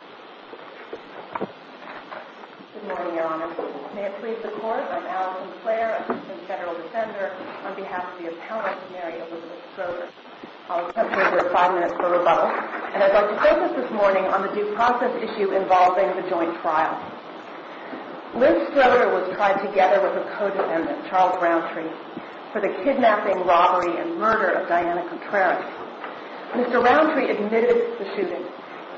Good morning, Your Honor. May it please the Court, I'm Alice McClaire, assistant federal defender on behalf of the appellant, Mary Elizabeth Stroder. I'll accept your five minutes for rebuttal, and I'd like to focus this morning on the due process issue involving the joint trial. Liz Stroder was tried together with her co-defendant, Charles Roundtree, for the kidnapping, robbery, and murder of Diana Contreras. Mr. Roundtree admitted the shooting.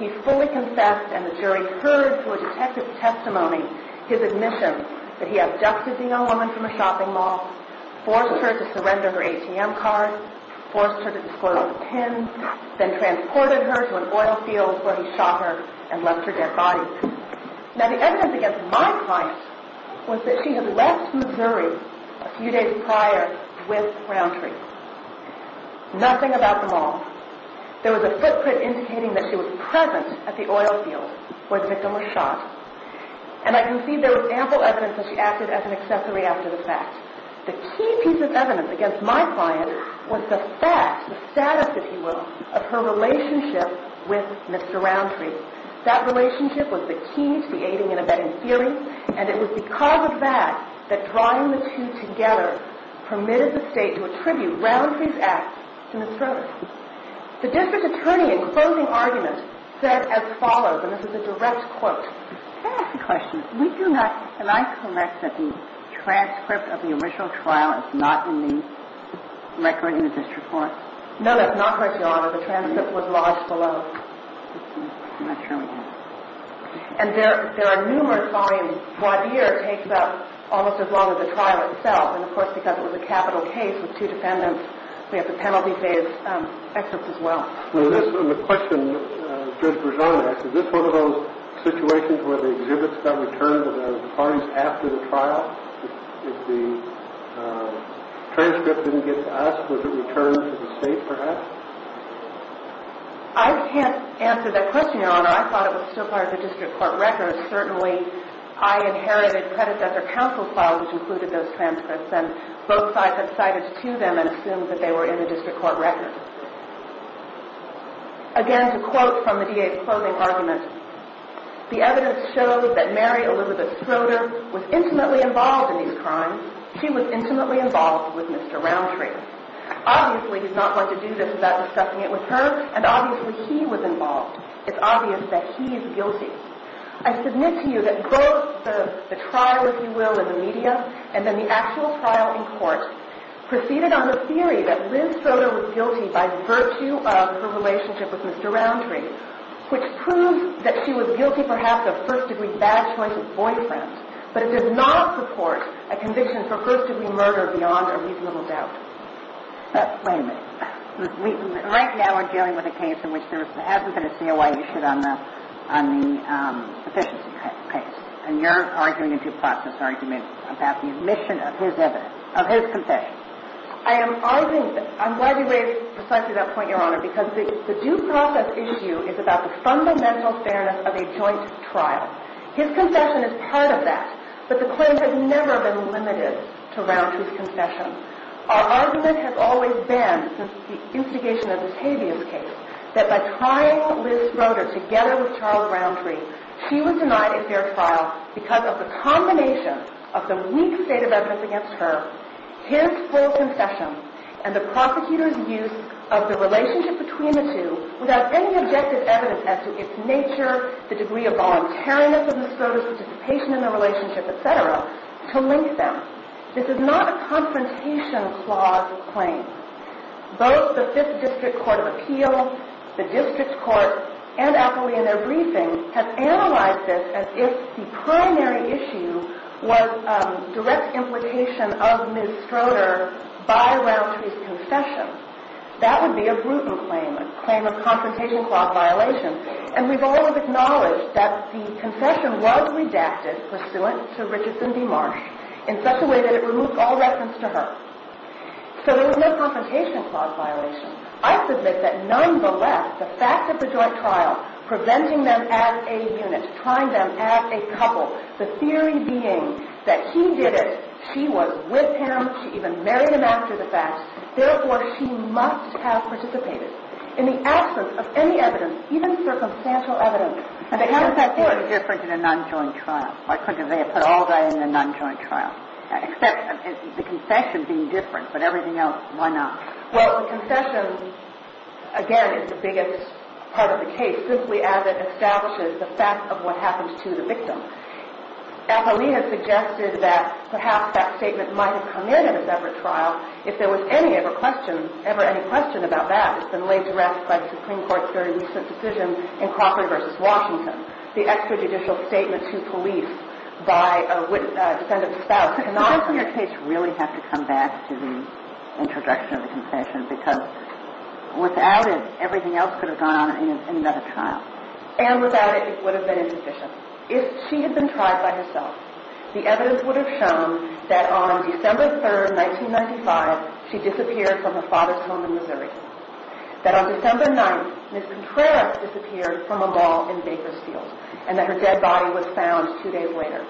He fully confessed, and the jury heard through a detective's testimony his admission that he abducted the young woman from a shopping mall, forced her to surrender her ATM card, forced her to dispose of the pins, then transported her to an oil field where he shot her and left her dead body. Now, the evidence against my client was that she had left Missouri a few days prior with Roundtree. Nothing about the mall. There was a footprint indicating that she was present at the oil field where the victim was shot, and I can see there was ample evidence that she acted as an accessory after the fact. The key piece of evidence against my client was the fact, the status, if you will, of her relationship with Mr. Roundtree. That relationship was the key to the aiding and abetting theory, and it was because of that that drawing the two together permitted the State to attribute Roundtree's act to Ms. The District Attorney, in closing argument, said as follows, and this is a direct quote. Can I ask a question? We do not, and I collect that the transcript of the original trial is not in the record in the district court? No, that's not correct, Your Honor. The transcript was lodged below. I'm not sure we have it. And there are numerous volumes. Wadeer takes up almost as long as the trial itself, and of course, because it was a capital case with two defendants, we have the penalty phase excerpt as well. And the question that Judge Berzon asked, is this one of those situations where the exhibits got returned to the parties after the trial? If the transcript didn't get to us, was it returned to the State, perhaps? I can't answer that question, Your Honor. I thought it was still part of the district court record. Certainly, I inherited credits at their counsel file, which included those that had been brought to them and assumed that they were in the district court record. Again, to quote from the DA's closing argument, the evidence shows that Mary Elizabeth Schroeder was intimately involved in these crimes. She was intimately involved with Mr. Roundtree. Obviously, he's not going to do this without discussing it with her, and obviously, he was involved. It's obvious that he is guilty. I submit to you that both the trial, if you proceed on the theory that Liz Schroeder was guilty by virtue of her relationship with Mr. Roundtree, which proves that she was guilty perhaps of first-degree bad choice of boyfriends, but it does not support a conviction for first-degree murder beyond a reasonable doubt. Wait a minute. Right now, we're dealing with a case in which there hasn't been a COI issued on the efficiency case. And you're arguing in two parts this argument about the omission of his evidence, of his confession. I'm glad you raised precisely that point, Your Honor, because the due process issue is about the fundamental fairness of a joint trial. His confession is part of that, but the claims have never been limited to Roundtree's confession. Our argument has always been, since the instigation of Octavia's case, that by trying Liz Schroeder together with Charles Roundtree, she was denied a fair trial because of the combination of the weak state of evidence against her, his full confession, and the prosecutor's use of the relationship between the two without any objective evidence as to its nature, the degree of voluntariness of Ms. Schroeder's participation in the relationship, et cetera, to link them. This is not a confrontation clause claim. Both the Fifth District Court of Appeal, the District Court, and Octavia in their briefing have analyzed this as if the primary issue was direct implication of Ms. Schroeder by Roundtree's confession. That would be a Bruton claim, a claim of confrontation clause violation. And we've always acknowledged that the confession was redacted pursuant to Richardson v. Marsh in such a way that it removed all reference to her. So there was no confrontation clause violation. I submit that nonetheless, the she was with him. She even married him after the fact. Therefore, she must have participated. In the absence of any evidence, even circumstantial evidence... And how is that different in a non-joint trial? Why couldn't they have put all that in a non-joint trial? Except the confession being different, but everything else, why not? Well, the confession, again, is the biggest part of the case, simply as it establishes the fact of what happened to the victim. Avelino suggested that perhaps that statement might have come in at a separate trial if there was ever any question about that. It's been laid to rest by the Supreme Court's very recent decision in Crawford v. Washington, the extrajudicial statement to police by a defendant's spouse. And I, from your case, really have to come back to the introduction of the confession because without it, everything else could have gone on in another trial. And without it, it would have been insufficient. If she had been tried by herself, the evidence would have shown that on December 3rd, 1995, she disappeared from her father's home in Missouri, that on December 9th, Ms. Contreras disappeared from a mall in Bakersfield, and that her dead body was found two days later.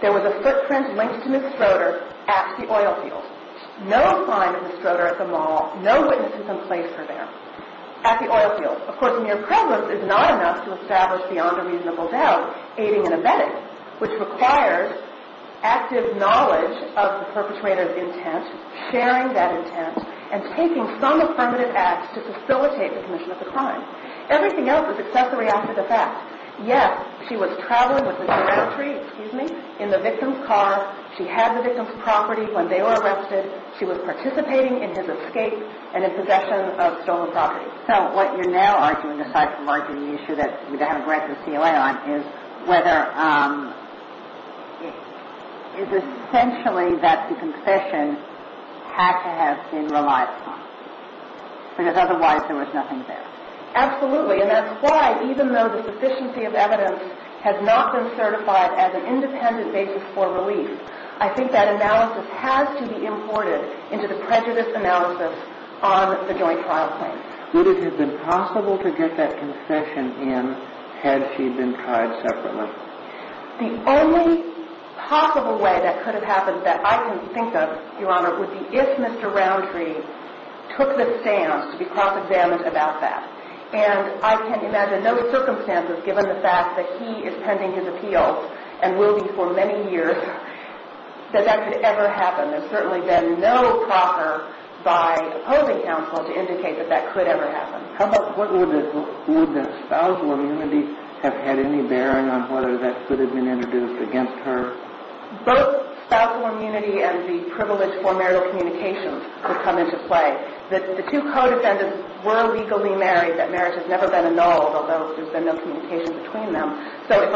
There was a footprint linked to Ms. Schroeder at the oil field. No sign of Ms. Schroeder at the mall, no witness in some place for that matter, at the oil field. Of course, mere prejudice is not enough to establish beyond a reasonable doubt, aiding and abetting, which requires active knowledge of the perpetrator's intent, sharing that intent, and taking some affirmative act to facilitate the commission of the crime. Everything else is accessory after the fact. Yes, she was traveling with Mr. Rowntree, excuse me, in the victim's car, she had the victim's property when they were So, what you're now arguing, aside from arguing the issue that we don't have a grant for the CLA on, is whether, is essentially that the concession had to have been relied upon, because otherwise there was nothing there. Absolutely, and that's why, even though the sufficiency of evidence has not been certified as an independent basis for relief, I think that analysis has to be imported into the prejudice analysis on the joint trial claim. Would it have been possible to get that concession in had she been tried separately? The only possible way that could have happened that I can think of, Your Honor, would be if Mr. Rowntree took the stance to be cross-examined about that, and I can imagine no circumstances, given the fact that he is pending his appeals, and will be for many years, that that could ever happen. There's certainly been no proffer by opposing counsel to indicate that that could ever happen. Would the spousal immunity have had any bearing on whether that could have been introduced against her? Both spousal immunity and the privilege for marital communications would come into play. The two co-defendants were legally married, that marriage has never been annulled, although there's been no communication between them, so if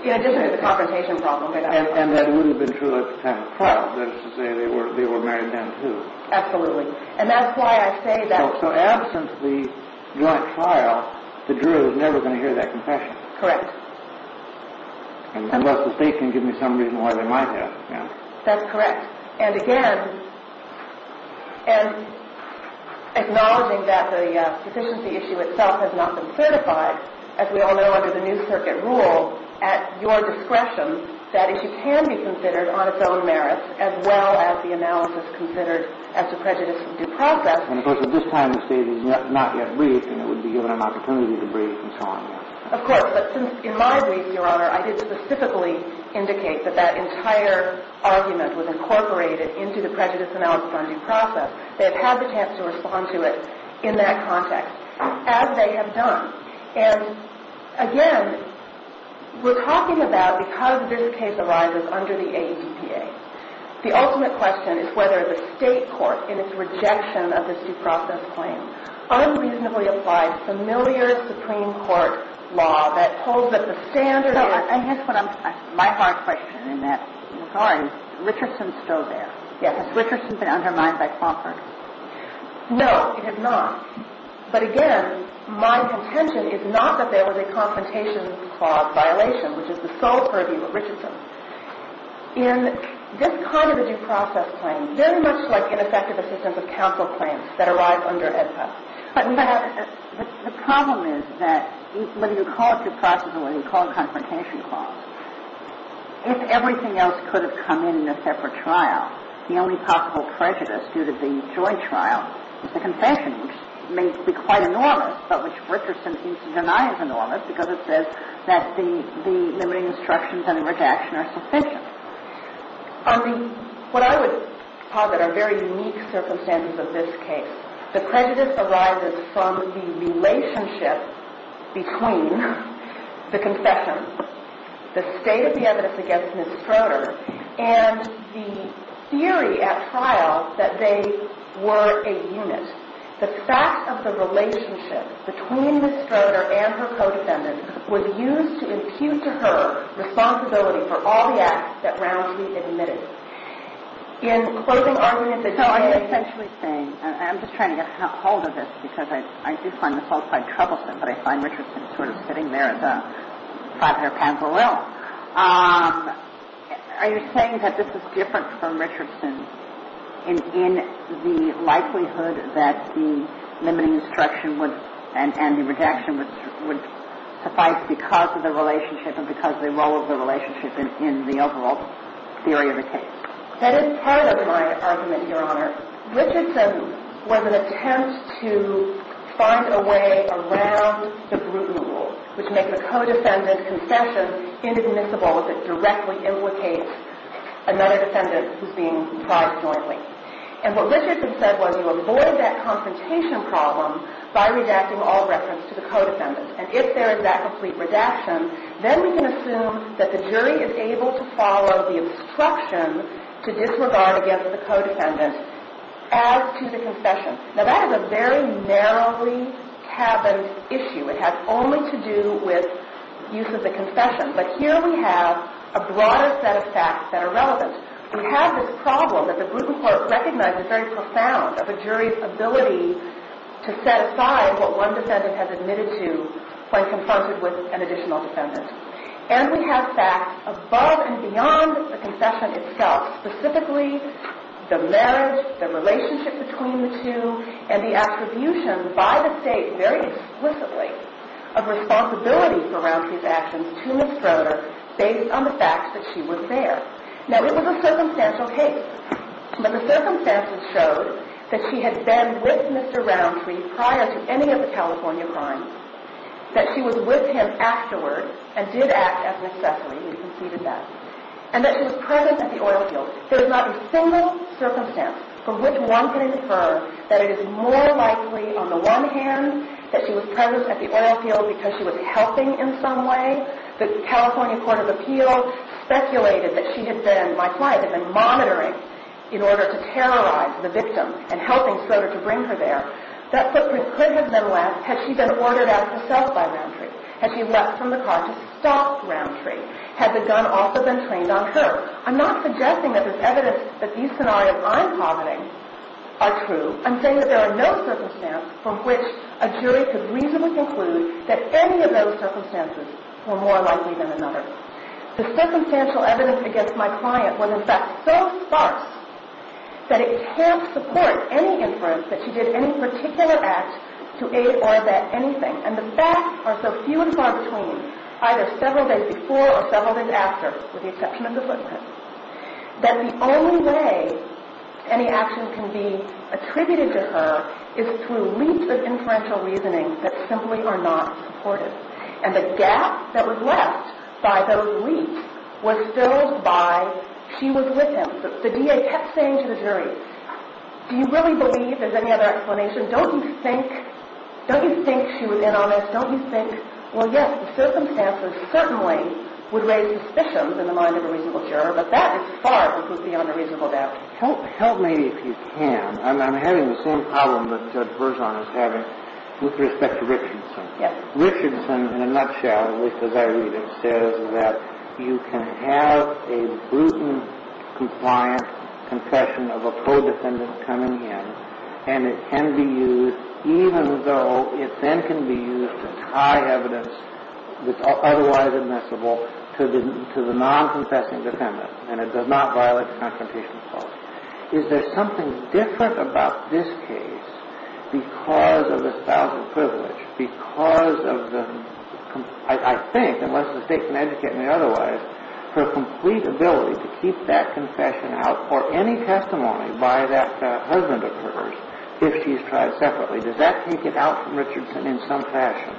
In addition to the confrontation problem. And that wouldn't have been true at the time of the trial, that is to say, they were married then too. Absolutely. And that's why I say that. So absent the joint trial, the juror is never going to hear that confession. Correct. Unless the state can give me some reason why they might have. That's correct. And again, acknowledging that the deficiency issue itself has not been certified, as we all know under the new circuit rule, at your discretion, that issue can be considered on its own merits, as well as the analysis considered as to prejudice of due process. And of course at this time the state is not yet briefed, and it would be given an opportunity to brief and so on and on. Of course, but since in my brief, your honor, I did specifically indicate that that entire argument was incorporated into the prejudice analysis on due process, they we're talking about, because this case arises under the ADPA, the ultimate question is whether the state court, in its rejection of this due process claim, unreasonably applied familiar Supreme Court law that holds that the standard is No, and here's my hard question in that regard. Richardson's still there. Has Richardson been undermined by Crawford? No, it has not. But again, my contention is not that there was a confrontation clause violation, which is the sole purview of Richardson. In this kind of a due process claim, very much like ineffective assistance of counsel claims that arrive under ADPA, the problem is that whether you call it due process or whether you call it confrontation clause, if everything else could have come in in a separate trial, the only possible prejudice due to the joint trial is the confession, which may be quite enormous, but which Richardson seems to deny is enormous, because it says that the limiting instructions and the rejection are sufficient. What I would posit are very unique circumstances of this case. The prejudice arises from the relationship between the confession, the state of the evidence against Ms. Schroeder, and the theory at trial that they were a unit. The fact of the relationship between Ms. Schroeder and her co-defendant was used to impute to her responsibility for all the acts that Rownsey admitted. In closing arguments, it says So, I'm essentially saying, and I'm just trying to get a hold of this, because I do find this all quite troublesome, but I find Richardson sort of sitting there as a five-year pamper Well, are you saying that this is different from Richardson in the likelihood that the limiting instruction and the rejection would suffice because of the relationship and because of the role of the relationship in the overall theory of the case? That is part of my argument, Your Honor. Richardson was an attempt to find a way around the Bruton Rule, which makes a co-defendant's confession inadmissible if it directly implicates another defendant who's being tried jointly. And what Richardson said was you avoid that confrontation problem by redacting all reference to the co-defendant. And if there is that complete redaction, then we can assume that the jury is able to follow the instruction to disregard against the co-defendant as to the confession. Now, that is a very narrowly cabined issue. It has only to do with use of the confession. But here we have a broader set of facts that are relevant. We have this problem that the Bruton Court recognized as very profound, of a jury's ability to set aside what one defendant has admitted to when confronted with an additional defendant. And we have facts above and beyond the confession itself, specifically the marriage, the relationship between the two, and the attribution by the plaintiff of responsibility for Roundtree's actions to Ms. Schroeder based on the fact that she was there. Now, it was a circumstantial case. But the circumstances showed that she had been with Mr. Roundtree prior to any of the California crimes, that she was with him afterward and did act as necessary. We conceded that. And that she was present at the oil field. There is not a single circumstance from which one can infer that it is more likely on the one hand that she was present at the oil field because she was helping in some way. The California Court of Appeals speculated that she had been, my client had been, monitoring in order to terrorize the victim and helping Schroeder to bring her there. That footprint could have been less had she been ordered out herself by Roundtree, had she left from the car to stop Roundtree, had the gun also been trained on her. I'm not suggesting that this evidence that these scenarios I'm targeting are true. I'm saying that there are no circumstances from which a jury could reasonably conclude that any of those circumstances were more likely than another. The circumstantial evidence against my client was, in fact, so sparse that it can't support any inference that she did any particular act to aid or vet anything. And the facts are so few and far between, either several days before or several days after, with the exception of the footprint, that the only way any action can be attributed to her is through leaps of inferential reasoning that simply are not supported. And the gap that was left by those leaps was filled by she was with him. The DA kept saying to the jury, do you really believe there's any other explanation? Don't you think, don't you think she was in on this? Don't you think, well yes, the circumstances certainly would raise suspicions in the mind of a reasonable juror, but that is far beyond a reasonable doubt. Help me if you can. I'm having the same problem that Judge Berzon is having with respect to Richardson. Yes. Richardson, in a nutshell, at least as I read it, says that you can have a brutal, compliant confession of a co-defendant coming in, and it can be used, even though it then can be used to tie evidence that's otherwise admissible to the non-confessing defendant, and it does not violate the confrontation clause. Is there something different about this case because of the style of privilege, because of the, I think, unless the State can educate me otherwise, her complete ability to keep that confession out for any testimony by that husband of hers, if she's tried separately, does that take it out from Richardson in some fashion?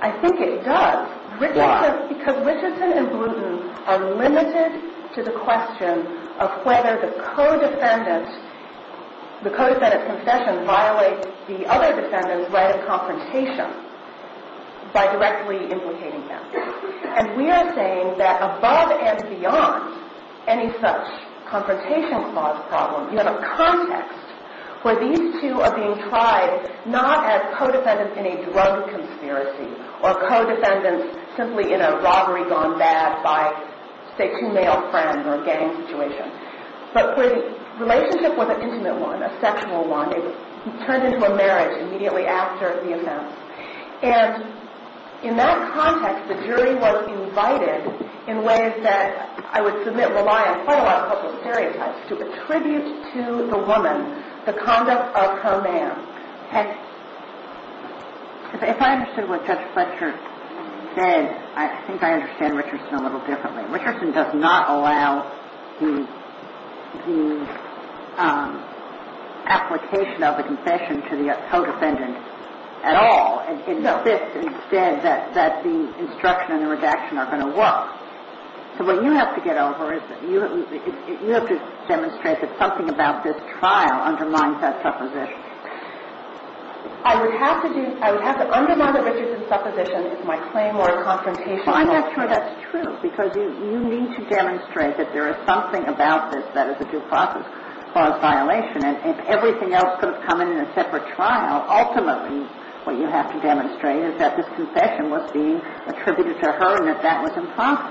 I think it does. Why? Because Richardson and Bluton are limited to the question of whether the co-defendant, the co-defendant's confession violates the other defendant's right of confrontation by directly implicating them. And we are saying that above and beyond any such confrontation clause problem, you have a context where these two are being tried not as co-defendants in a drug conspiracy or co-defendants simply in a robbery gone bad by, say, two male friends or a gang situation, but where the relationship was an intimate one, a sexual one. It turned into a marriage immediately after the offense. And in that context, the jury was invited in ways that I would submit rely on quite a lot of public stereotypes to attribute to the woman the conduct of her man. If I understood what Judge Fletcher said, I think I understand Richardson a little differently. Richardson does not allow the application of a confession to the co-defendant at all. No. So what you have to get over is you have to demonstrate that something about this trial undermines that supposition. I would have to do – I would have to undermine the Richardson supposition if my claim or confrontation – Fine. That's true. That's true. Because you need to demonstrate that there is something about this that is a due process clause violation. And if everything else could have come in a separate trial, ultimately what you have to demonstrate is that this confession was being attributed to her and that that was impromptu.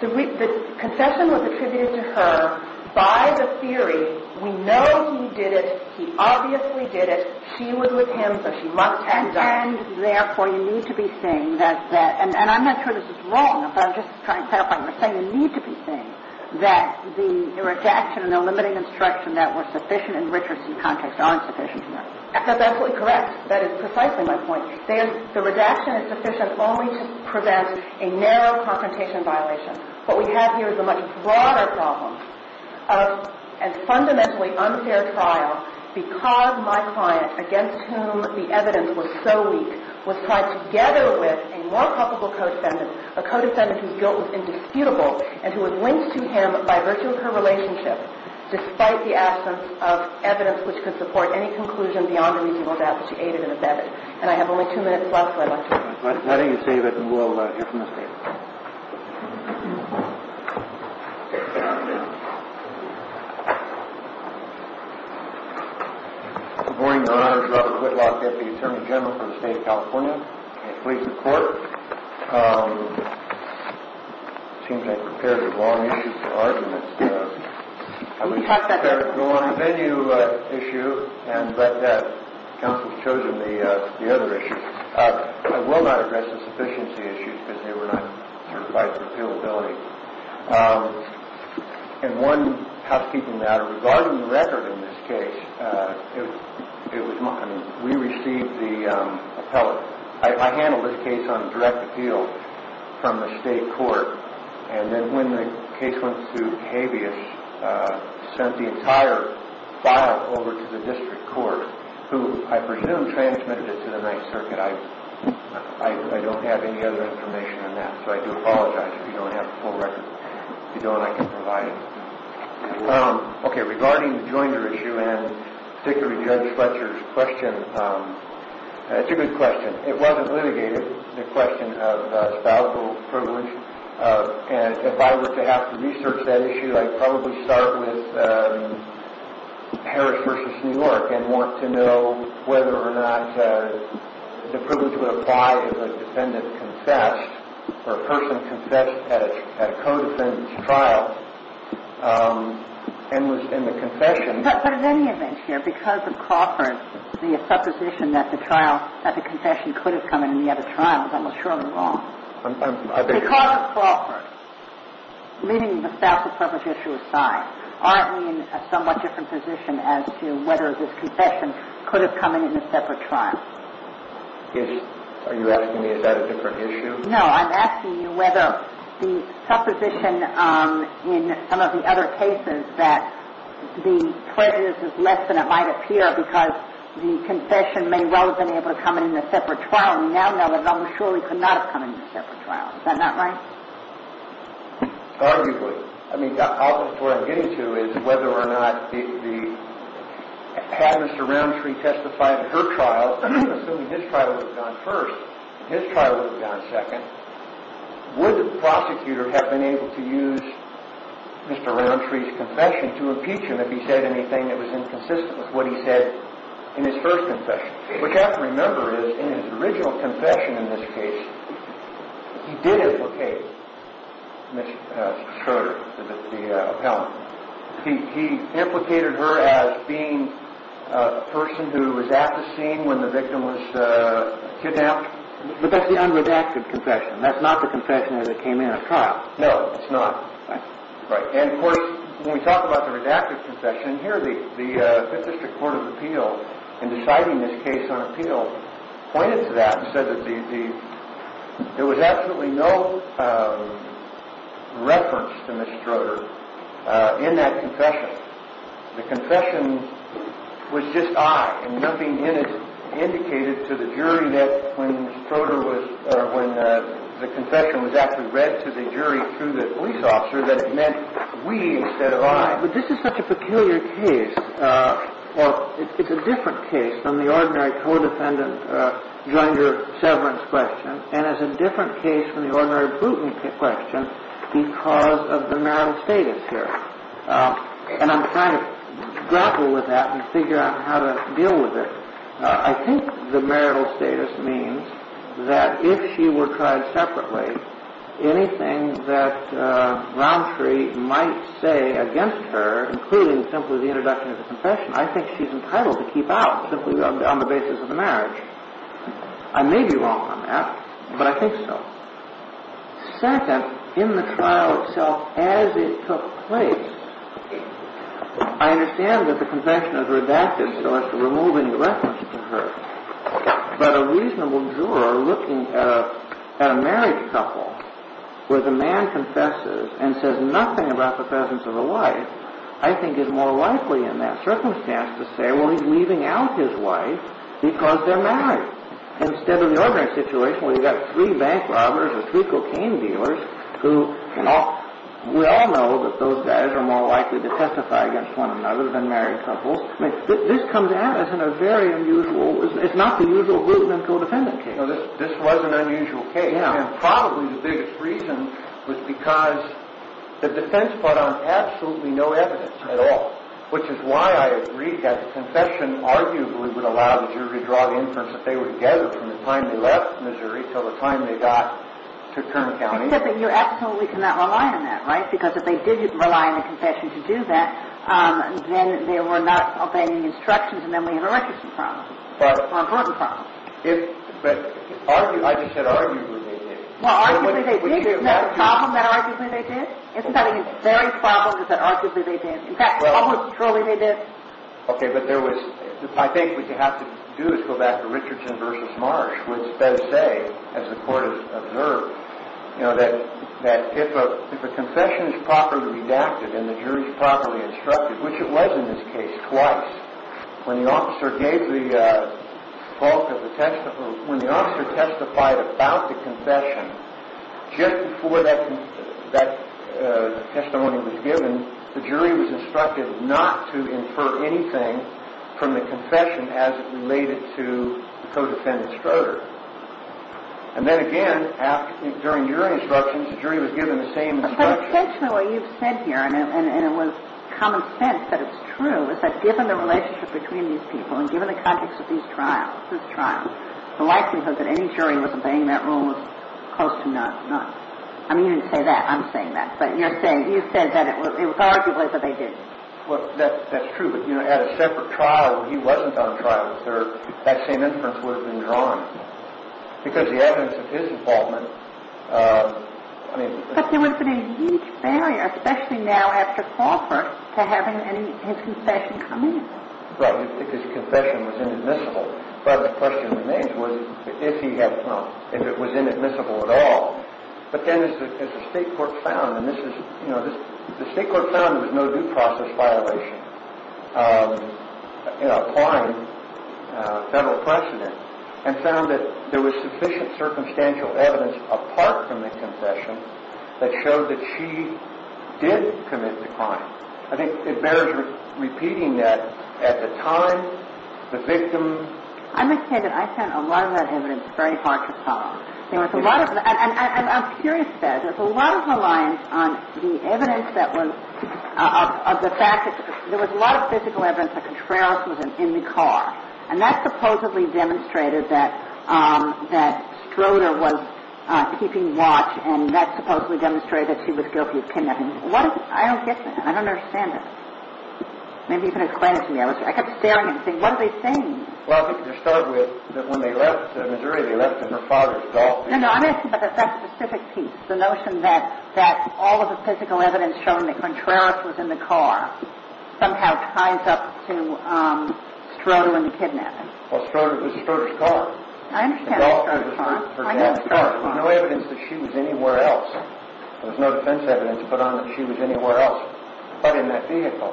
The confession was attributed to her by the theory, we know he did it, he obviously did it, she was with him, so she must have done it. And therefore, you need to be saying that – and I'm not sure this is wrong, but I'm just trying to clarify what you're saying – you need to be saying that the That's absolutely correct. That is precisely my point. The redaction is sufficient only to prevent a narrow confrontation violation. What we have here is a much broader problem of a fundamentally unfair trial because my client, against whom the evidence was so weak, was tried together with a more culpable co-defendant, a co-defendant whose guilt was indisputable and who was linked to him by virtue of her relationship, despite the absence of evidence which could support any conclusion beyond the reasonable doubt that she aided and abetted. And I have only two minutes left, so I'd like to – Nothing to say, but we'll hear from the state. Good morning, Your Honor. Robert Whitlock, Deputy Attorney General for the State of California It seems I've prepared a long issue for argument. I was prepared to go on a venue issue, but counsel's chosen the other issue. I will not address the sufficiency issue because they were not certified for appealability. And one housekeeping matter. Regarding the record in this case, we received the appellate. I handled this case on direct appeal from the state court. And then when the case went to habeas, sent the entire file over to the district court, who I presume transmitted it to the Ninth Circuit. I don't have any other information on that, so I do apologize if you don't have the full record. If you don't, I can provide it. Okay, regarding the joinder issue and particularly Judge Fletcher's question, it's a good question. It wasn't litigated, the question of spousal privilege. And if I were to have to research that issue, I'd probably start with Harris v. New York and want to know whether or not the privilege would apply if a defendant confessed or a person confessed at a co-defendant's trial and was in the confession. But in any event here, because of Crawford, the supposition that the trial, that the confession could have come in the other trial is almost surely wrong. Because of Crawford, leaving the spousal privilege issue aside, aren't we in a somewhat different position as to whether this confession could have come in in a separate trial? Are you asking me is that a different issue? No, I'm asking you whether the supposition in some of the other cases that the prejudice is less than it might appear because the confession may well have been able to come in in a separate trial. We now know that it almost surely could not have come in in a separate trial. Is that not right? Arguably. I mean, the opposite of what I'm getting to is whether or not the, had Mr. Roundtree testified in her trial, assuming his trial would have gone first, and his trial would have gone second, would the prosecutor have been able to use Mr. Roundtree's confession to impeach him if he said anything that was inconsistent with what he said in his first confession? What you have to remember is in his original confession in this case, he did implicate Ms. Schroeder, the appellant. He implicated her as being a person who was at the scene when the victim was kidnapped. But that's the unredacted confession. That's not the confession that came in at trial. No, it's not. Right. And of course, when we talk about the redacted confession, here the Fifth District Court of Appeal, in deciding this case on appeal, pointed to that and said that there was absolutely no reference to Ms. Schroeder in that confession. The confession was just I, and nothing indicated to the jury that when Ms. Schroeder was, or when the confession was actually read to the jury through the police officer, that it meant we instead of I. But this is such a peculiar case. It's a different case from the ordinary co-defendant gender severance question, and it's a different case from the ordinary recruitment question because of the marital status here. And I'm trying to grapple with that and figure out how to deal with it. I think the marital status means that if she were tried separately, anything that Browntree might say against her, including simply the introduction of the confession, I think she's entitled to keep out simply on the basis of the marriage. I may be wrong on that, but I think so. Second, in the trial itself, as it took place, I understand that the confession is redacted so as to remove any reference to her, but a reasonable juror looking at a married couple where the man confesses and says nothing about the presence of a wife, I think is more likely in that circumstance to say, well, he's leaving out his wife because they're married. Instead of the ordinary situation where you've got three bank robbers or three cocaine dealers who, we all know that those guys are more likely to testify against one another than married couples. This comes out as a very unusual, it's not the usual root in a codependent case. This was an unusual case, and probably the biggest reason was because the defense put on absolutely no evidence at all, which is why I agree that the confession arguably would allow the jury to draw the inference that they were together from the time they left Missouri until the time they got to Kermit County. Except that you absolutely cannot rely on that, right? Because if they did rely on the confession to do that, then they were not obeying the instructions, and then we had a records problem or a burden problem. But I just said arguably they did. Well, arguably they did. Isn't that a problem that arguably they did? Isn't that a very problem that arguably they did? In fact, almost surely they did. Okay, but there was, I think what you have to do is go back to Richardson v. Marsh, which says, as the court has observed, that if a confession is properly redacted and the jury is properly instructed, which it was in this case twice, when the officer testified about the confession, just before that testimony was given, the jury was instructed not to infer anything from the confession as it related to the co-defendant's murderer. And then again, during your instructions, the jury was given the same instructions. But essentially what you've said here, and it was common sense that it's true, is that given the relationship between these people and given the context of this trial, the likelihood that any jury was obeying that rule was close to none. I mean, you didn't say that. I'm saying that. But you're saying, you said that it was arguably that they did. Well, that's true. But, you know, at a separate trial where he wasn't on trial, that same inference would have been drawn. Because the evidence of his involvement, I mean... But there would have been a huge failure, especially now after Crawford, to have his confession come in. Right. His confession was inadmissible. But the question remains was if he had, you know, if it was inadmissible at all. But then as the state court found, and this is, you know, the state court found there was no due process violation in applying federal precedent and found that there was sufficient circumstantial evidence apart from the confession that showed that she did commit the crime. I think it bears repeating that at the time, the victim... I must say that I found a lot of that evidence very hard to follow. There was a lot of... And I'm curious about it. There was a lot of reliance on the evidence that was... of the fact that there was a lot of physical evidence that Contreras was in the car. And that supposedly demonstrated that Stroder was keeping watch and that supposedly demonstrated that she was guilty of kidnapping. I don't get that. I don't understand it. Maybe you can explain it to me. I kept staring and saying, what are they saying? Well, I think to start with, that when they left Missouri, they left in her father's Golf car. No, no, I'm asking about that specific piece, the notion that all of the physical evidence showing that Contreras was in the car somehow ties up to Stroder and the kidnapping. Well, Stroder was in Stroder's car. I understand that, Your Honor. The Golf car was in her dad's car. I understand that, Your Honor. There was no evidence that she was anywhere else. There was no defense evidence to put on that she was anywhere else but in that vehicle.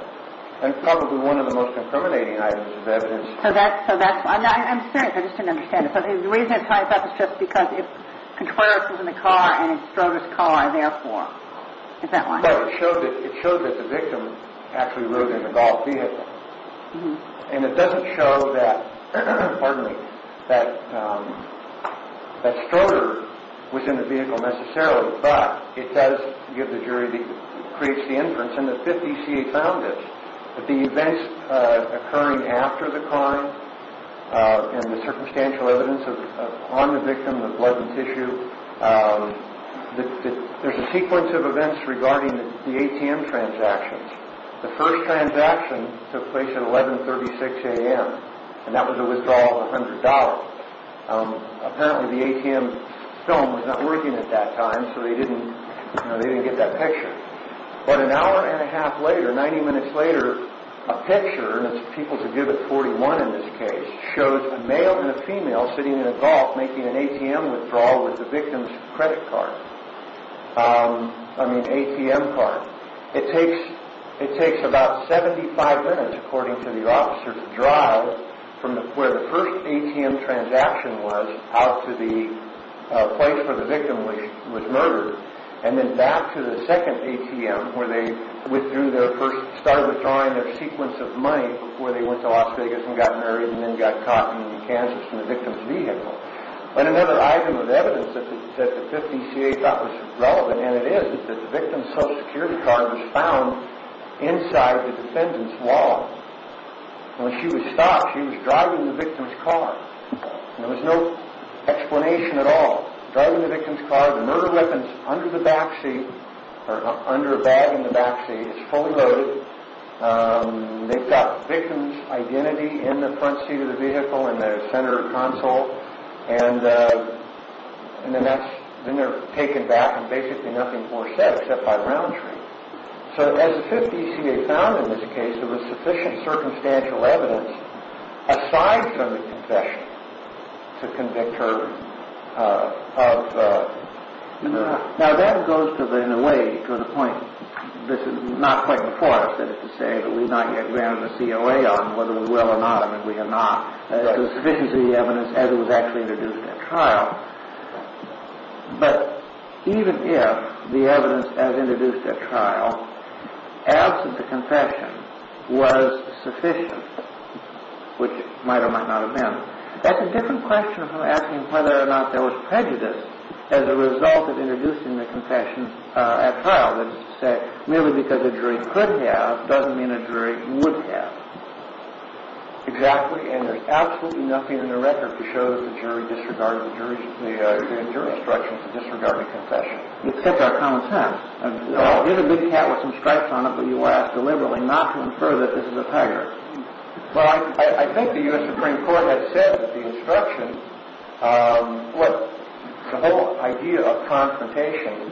And probably one of the most incriminating items of evidence... So that's why. I'm serious. I just didn't understand it. The reason it ties up is just because Contreras was in the car and Stroder's car, therefore. Is that why? No, it showed that the victim actually rode in the Golf vehicle. And it doesn't show that Stroder was in the vehicle necessarily, but it does give the jury the inference, and the 50 CA found this, that the events occurring after the crime and the circumstantial evidence on the victim of blood and tissue, there's a sequence of events regarding the ATM transactions. The first transaction took place at 11.36 a.m., and that was a withdrawal of $100. Apparently, the ATM phone was not working at that time, so they didn't get that picture. But an hour and a half later, 90 minutes later, a picture, and it's people to give at 41 in this case, shows a male and a female sitting in a Golf making an ATM withdrawal with the victim's credit card. I mean, ATM card. It takes about 75 minutes, according to the officer, to drive from where the first ATM transaction was out to the place where the victim was murdered, and then back to the second ATM where they started withdrawing their sequence of money before they went to Las Vegas and got married and then got caught in Kansas in the victim's vehicle. And another item of evidence that the 50 CA thought was relevant, and it is, is that the victim's Social Security card was found inside the defendant's wall. When she was stopped, she was driving the victim's car. There was no explanation at all. Driving the victim's car, the murder weapon's under the backseat, or under a bag in the backseat. It's fully loaded. They've got the victim's identity in the front seat of the vehicle, in the center console, and then they're taken back and basically nothing more said except by round three. So as the 50 CA found in this case, there was sufficient circumstantial evidence, aside from the confession, to convict her of the murder. Now that goes to, in a way, to the point, this is not quite before us, that is to say, that we've not yet granted a COA on whether we will or not, and if we do not. There's sufficient evidence as it was actually introduced at trial. But even if the evidence as introduced at trial, as of the confession, was sufficient, which it might or might not have been, that's a different question from asking whether or not there was prejudice as a result of introducing the confession at trial. That is to say, merely because a jury could have, doesn't mean a jury would have. Exactly. And there's absolutely nothing in the record to show that the jury disregarded the jury instruction to disregard the confession. Except our common sense. We have a big cat with some stripes on it, but you were asked deliberately not to infer that this is a tiger. Well, I think the U.S. Supreme Court has said that the instruction, Well, the whole idea of confrontation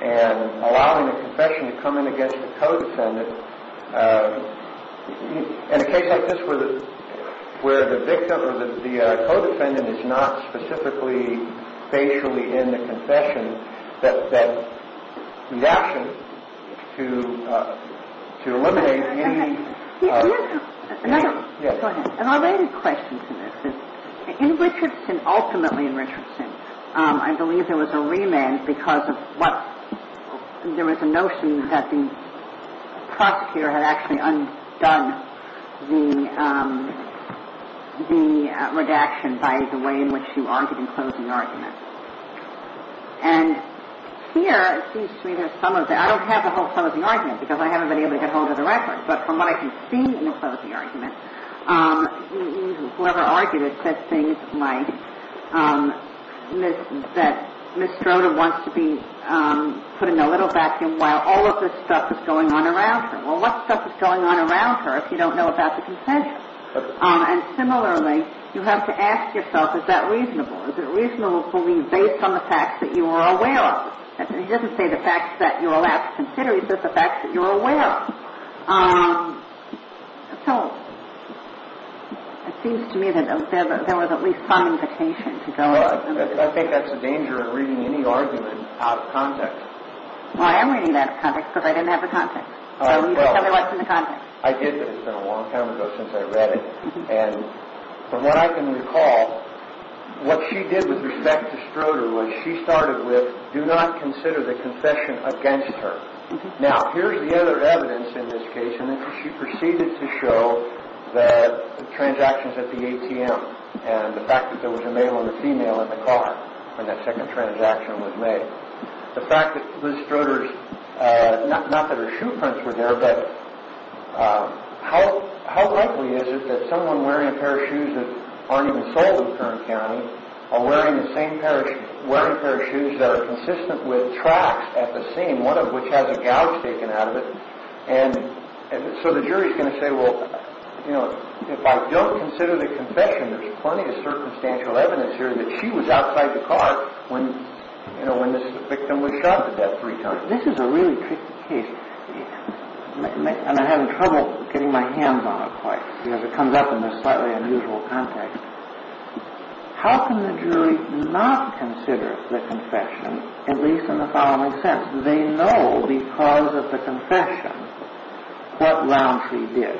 and allowing the confession to come in against the co-defendant, in a case like this where the victim or the co-defendant is not specifically facially in the confession, that the action to eliminate any Go ahead. And I'll add a question to this. In Richardson, ultimately in Richardson, I believe there was a remand because of what, there was a notion that the prosecutor had actually undone the redaction by the way in which you argued in closing argument. And here, it seems to me, there's some of the, I don't have the whole closing argument, because I haven't been able to get hold of the record, but from what I can see in the closing argument, whoever argued it said things like that Ms. Stroda wants to be put in a little vacuum while all of this stuff is going on around her. Well, what stuff is going on around her if you don't know about the confession? And similarly, you have to ask yourself, is that reasonable? Is it reasonable for me based on the facts that you are aware of? He doesn't say the facts that you are allowed to consider, he says the facts that you are aware of. So, it seems to me that there was at least some implication to go ahead and Well, I think that's a danger in reading any argument out of context. Well, I am reading that out of context because I didn't have the context. So, tell me what's in the context. I did, but it's been a long time ago since I read it. And from what I can recall, what she did with respect to Stroda was she started with do not consider the confession against her. Now, here's the other evidence in this case, and she proceeded to show the transactions at the ATM and the fact that there was a male and a female in the car when that second transaction was made. The fact that Liz Stroda's, not that her shoe prints were there, but how likely is it that someone wearing a pair of shoes that aren't even sold in Kern County are wearing the same pair of shoes, wearing a pair of shoes that are consistent with tracks at the scene, one of which has a gouge taken out of it. And so the jury's going to say, well, you know, if I don't consider the confession, there's plenty of circumstantial evidence here that she was outside the car when, you know, when this victim was shot at that free time. Now, this is a really tricky case, and I'm having trouble getting my hands on it quite, because it comes up in this slightly unusual context. How can the jury not consider the confession, at least in the following sense? They know because of the confession what Roundtree did.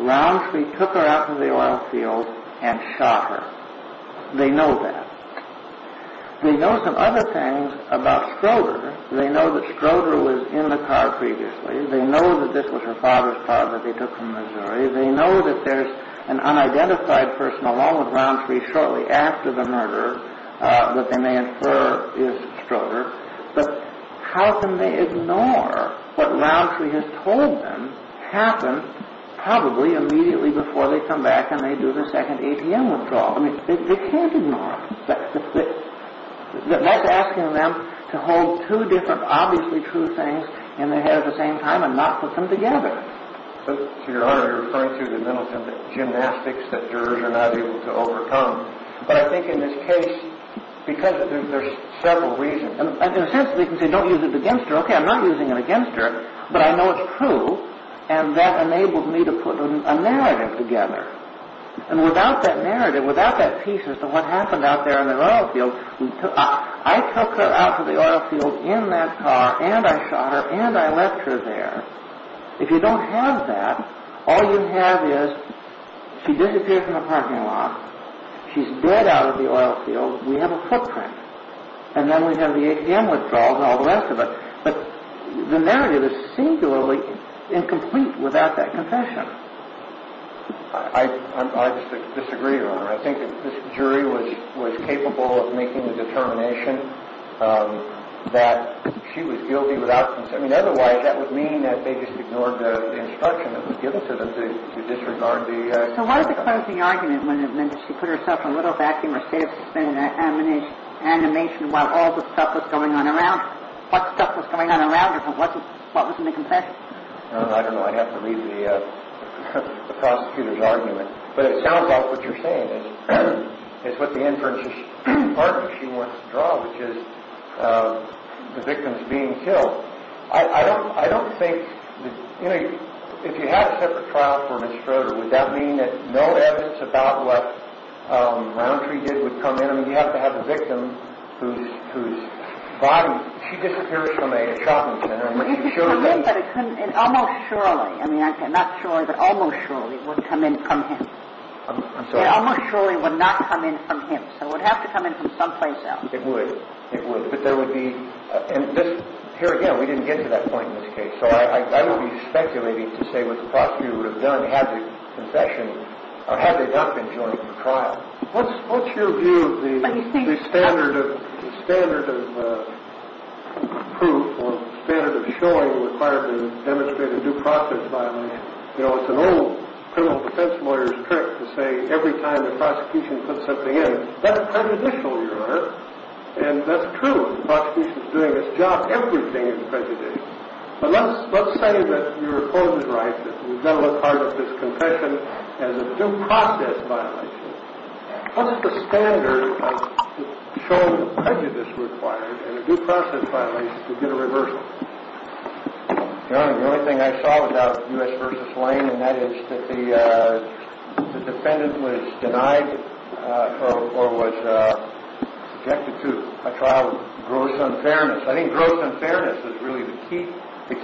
Roundtree took her out to the oil field and shot her. They know that. They know some other things about Stroder. They know that Stroder was in the car previously. They know that this was her father's car that they took from Missouri. They know that there's an unidentified person along with Roundtree shortly after the murder that they may infer is Stroder. But how can they ignore what Roundtree has told them happened probably immediately before they come back and they do the second ATM withdrawal? I mean, they can't ignore it. That's asking them to hold two different obviously true things in their head at the same time and not put them together. So, Your Honor, you're referring to the mental gymnastics that jurors are not able to overcome. But I think in this case, because there's several reasons, and in a sense they can say don't use it against her, okay, I'm not using it against her, but I know it's true, and that enabled me to put a narrative together. And without that narrative, without that piece as to what happened out there in the oil field, I took her out to the oil field in that car and I shot her and I left her there. If you don't have that, all you have is she disappears from the parking lot, she's dead out of the oil field, we have a footprint, and then we have the ATM withdrawals and all the rest of it. But the narrative is singularly incomplete without that confession. I disagree, Your Honor. I think that this jury was capable of making the determination that she was guilty without consent. I mean, otherwise that would mean that they just ignored the instruction that was given to them to disregard the... So, what is the closing argument when it meant that she put herself in a little vacuum instead of suspending her animation while all the stuff was going on around her? What stuff was going on around her? What was in the confession? I don't know. I'd have to read the prosecutor's argument. But it sounds like what you're saying is what the inference department wants to draw, which is the victim's being killed. I don't think, you know, if you had a separate trial for Ms. Schroeder, would that mean that no evidence about what Roundtree did would come in? I mean, you have to have the victim whose body, she disappears from a shopping center. It would come in, but it couldn't, and almost surely. I mean, not surely, but almost surely it wouldn't come in from him. I'm sorry? It almost surely would not come in from him. So it would have to come in from someplace else. It would. It would. But there would be, and this, here again, we didn't get to that point in this case. So I wouldn't be speculating to say what the prosecutor would have done had the confession, or had they not been joining the trial. What's your view of the standard of proof or standard of showing required to demonstrate a due process violation? You know, it's an old criminal defense lawyer's trick to say every time the prosecution puts something in, that's prejudicial, Your Honor, and that's true. The prosecution is doing its job. Everything is prejudicial. But let's say that your opponent writes that we've never looked hard at this confession as a due process violation. What's the standard of showing the prejudice required in a due process violation to get a reversal? Your Honor, the only thing I saw about U.S. v. Lane, and that is that the defendant was denied or was subjected to a trial of gross unfairness. I think gross unfairness is really the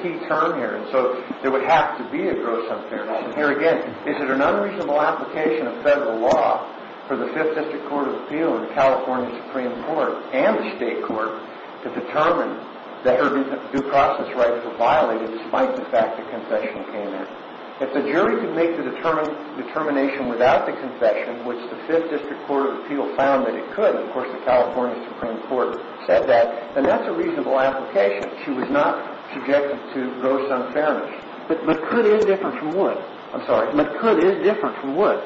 key term here. And so there would have to be a gross unfairness. And here again, is it an unreasonable application of federal law for the Fifth District Court of Appeal and the California Supreme Court and the state court to determine that their due process rights were violated, despite the fact the confession came in? If the jury could make the determination without the confession, which the Fifth District Court of Appeal found that it could, and of course the California Supreme Court said that, then that's a reasonable application. She was not subjected to gross unfairness. But could is different from would. I'm sorry. But could is different from would.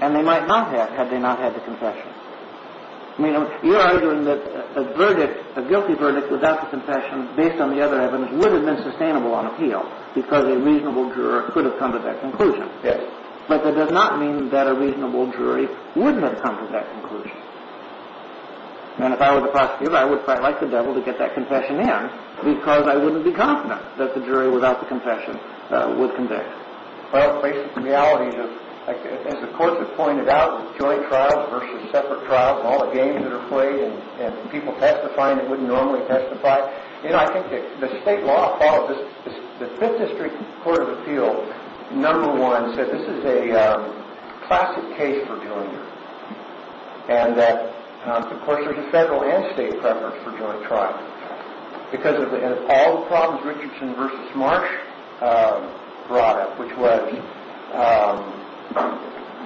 And they might not have had they not had the confession. I mean, you're arguing that a verdict, a guilty verdict, without the confession, based on the other evidence, would have been sustainable on appeal because a reasonable juror could have come to that conclusion. Yes. But that does not mean that a reasonable jury wouldn't have come to that conclusion. And if I were the prosecutor, I would quite like the devil to get that confession in because I wouldn't be confident that the jury without the confession would convict. Well, the basic reality is, as the courts have pointed out, joint trials versus separate trials and all the games that are played and people testifying that wouldn't normally testify. You know, I think the state law followed this. The Fifth District Court of Appeal, number one, said this is a classic case for doing this. And that, of course, there's a federal and state preference for joint trials. Because of all the problems Richardson v. Marsh brought up, which was,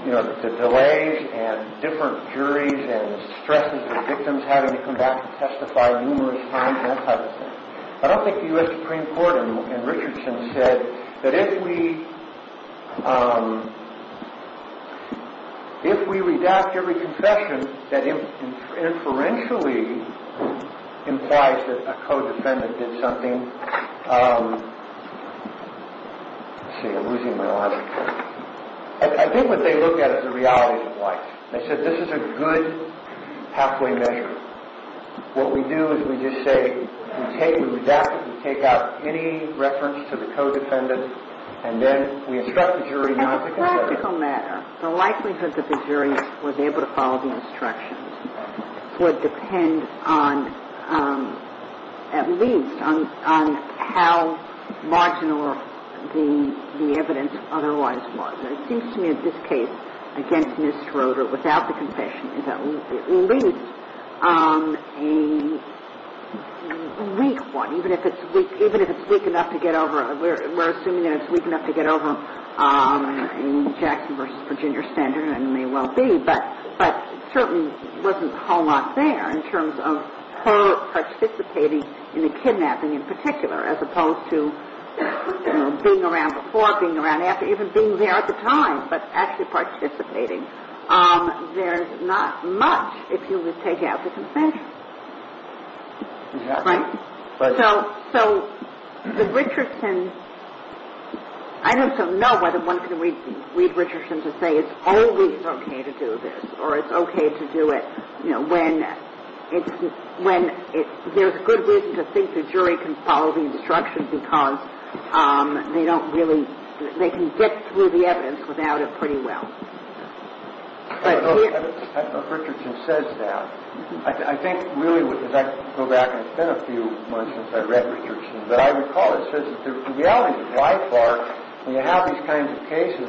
you know, the delays and different juries and the stresses of victims having to come back and testify numerous times, that type of thing. I don't think the U.S. Supreme Court in Richardson said that if we redact every confession that inferentially implies that a co-defendant did something, let's see, I'm losing my logic here. I think what they look at is the realities of life. They said this is a good halfway measure. What we do is we just say, we take, we redact it, we take out any reference to the co-defendant, and then we instruct the jury not to confess. As a practical matter, the likelihood that the jury was able to follow the instructions would depend on, at least, on how marginal the evidence otherwise was. It seems to me that this case, against Ms. Schroeder, without the confession, is at least a weak one, even if it's weak enough to get over, we're assuming that it's weak enough to get over Jackson v. Virginia Standard, and it may well be. But it certainly wasn't a whole lot there in terms of her participating in the kidnapping in particular, as opposed to being around before, being around after, even being there at the time, but actually participating. There's not much, if you would take out the confession. Right? So the Richardson, I don't know whether one can read Richardson to say it's always okay to do this, or it's okay to do it, when there's good reason to think the jury can follow the instructions, because they don't really, they can get through the evidence without it pretty well. I don't know if Richardson says that. I think, really, as I go back, and it's been a few months since I've read Richardson, but I recall it says that the reality is, by far, when you have these kinds of cases,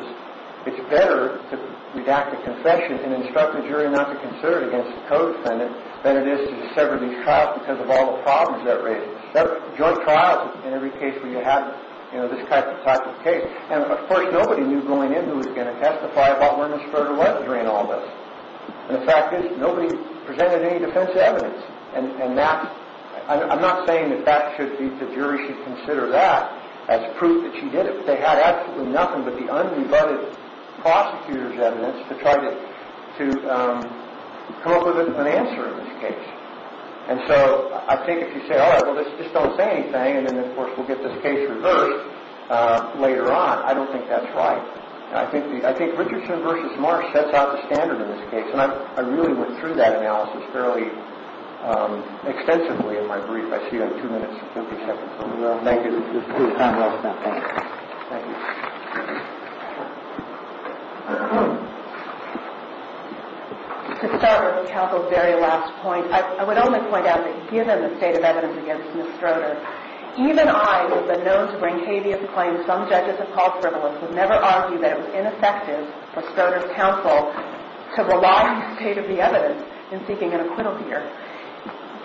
it's better to redact the confession and instruct the jury not to consider it against the co-defendant than it is to sever these trials because of all the problems that raise it. There are joint trials in every case where you have this type of case. And, of course, nobody knew going in who was going to testify about where Ms. Furter was during all this. And the fact is, nobody presented any defensive evidence. And that, I'm not saying that the jury should consider that as proof that she did it, but they had absolutely nothing but the unrebutted prosecutor's evidence to try to come up with an answer in this case. And so, I think if you say, all right, well, just don't say anything, and then, of course, we'll get this case reversed later on, I don't think that's right. I think Richardson v. Marsh sets out the standard in this case, and I really went through that analysis fairly extensively in my brief. I see you have two minutes, 50 seconds. Thank you. This is a good time to wrap it up. Thank you. To start with Counsel's very last point, I would only point out that given the state of evidence against Ms. Stroder, even I, who have been known to bring habeas claims, some judges have called frivolous, would never argue that it was ineffective for Stroder's counsel to rely on the state of the evidence in seeking an acquittal here.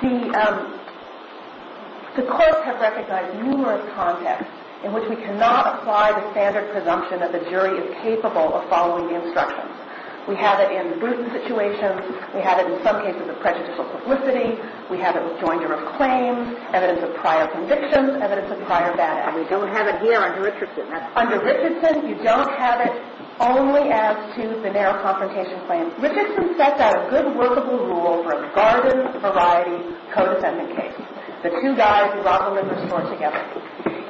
The courts have recognized numerous contexts in which we cannot apply the standard presumption that the jury is capable of following the instructions. We have it in the Bruton situation. We have it in some cases of prejudicial publicity. We have it with joinder of claims, evidence of prior convictions, evidence of prior bad acts. And we don't have it here under Richardson. Under Richardson, you don't have it only as to the narrow confrontation claims. Richardson sets out a good workable rule for a garden-variety co-defendant case. The two guys who rock the limber floor together.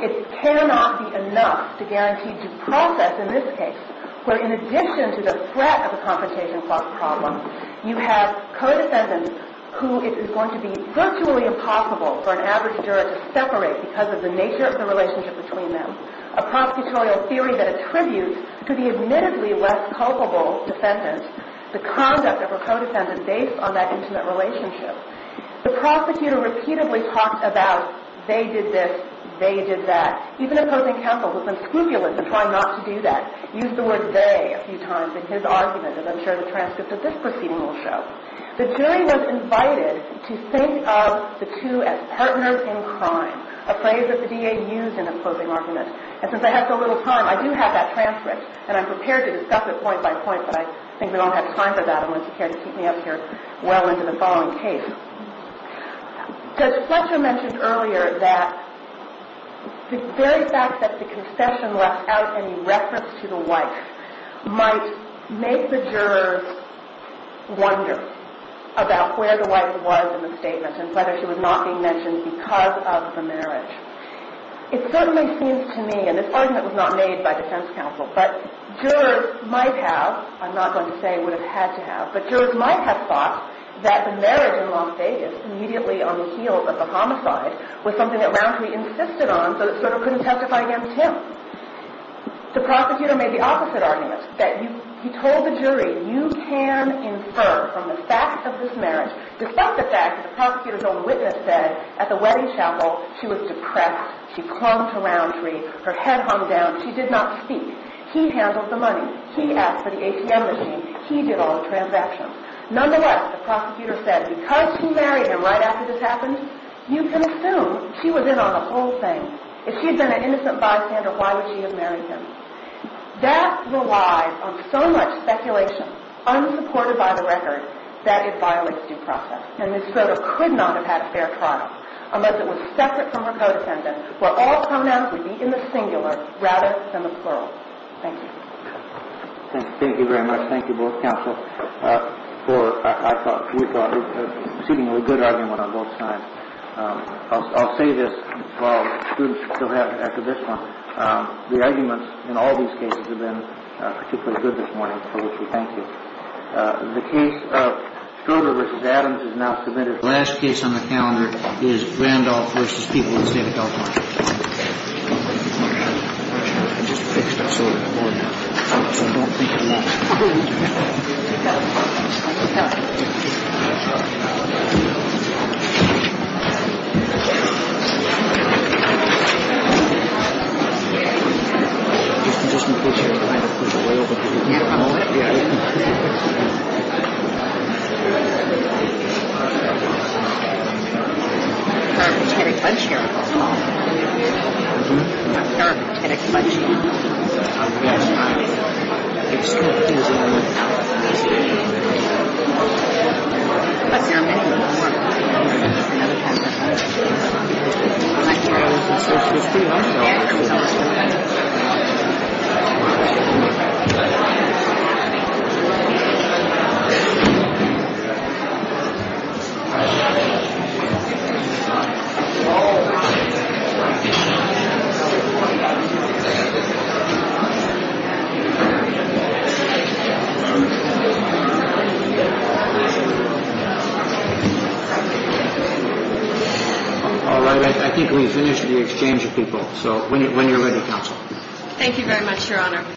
It cannot be enough to guarantee due process in this case, where in addition to the threat of a confrontation problem, you have co-defendants who it is going to be virtually impossible for an average juror to separate because of the nature of the relationship between them, a prosecutorial theory that attributes to the admittedly less culpable defendant the conduct of a co-defendant based on that intimate relationship. The prosecutor repeatedly talks about they did this, they did that. Even opposing counsel has been scrupulous in trying not to do that. Used the word they a few times in his argument, as I'm sure the transcript of this proceeding will show. The jury was invited to think of the two as partners in crime, a phrase that the DA used in opposing arguments. And since I have so little time, I do have that transcript. And I'm prepared to discuss it point by point, but I think we don't have time for that. I want you to keep me up here well into the following case. Judge Fletcher mentioned earlier that the very fact that the concession left out any reference to the wife might make the jurors wonder about where the wife was in the statement and whether she was not being mentioned because of the marriage. It certainly seems to me, and this argument was not made by defense counsel, but jurors might have, I'm not going to say would have had to have, but jurors might have thought that the marriage in Las Vegas, immediately on the heels of a homicide, was something that Rountree insisted on, so it sort of couldn't testify against him. The prosecutor made the opposite argument, that he told the jury, you can infer from the fact of this marriage, despite the fact that the prosecutor's own witness said at the wedding chapel, she was depressed, she clung to Rountree, her head hung down, she did not speak. He handled the money. He asked for the ATM machine. He did all the transactions. Nonetheless, the prosecutor said, because she married him right after this happened, you can assume she was in on the whole thing. If she had been an innocent bystander, why would she have married him? That relies on so much speculation, unsupported by the record, that it violates due process. And Ms. Schroeder could not have had a fair trial, unless it was separate from her co-defendant, where all pronouns would be in the singular, rather than the plural. Thank you. Thank you very much. Thank you both, counsel, for, I thought, we thought, receiving a good argument on both sides. I'll say this, while students still have it after this one. The arguments in all these cases have been particularly good this morning, for which we thank you. The case of Schroeder v. Adams is now submitted. The last case on the calendar is Randolph v. People of the State of California. All right. I think we've finished the exchange of people, so when you're ready, counsel. Thank you very much, Your Honor.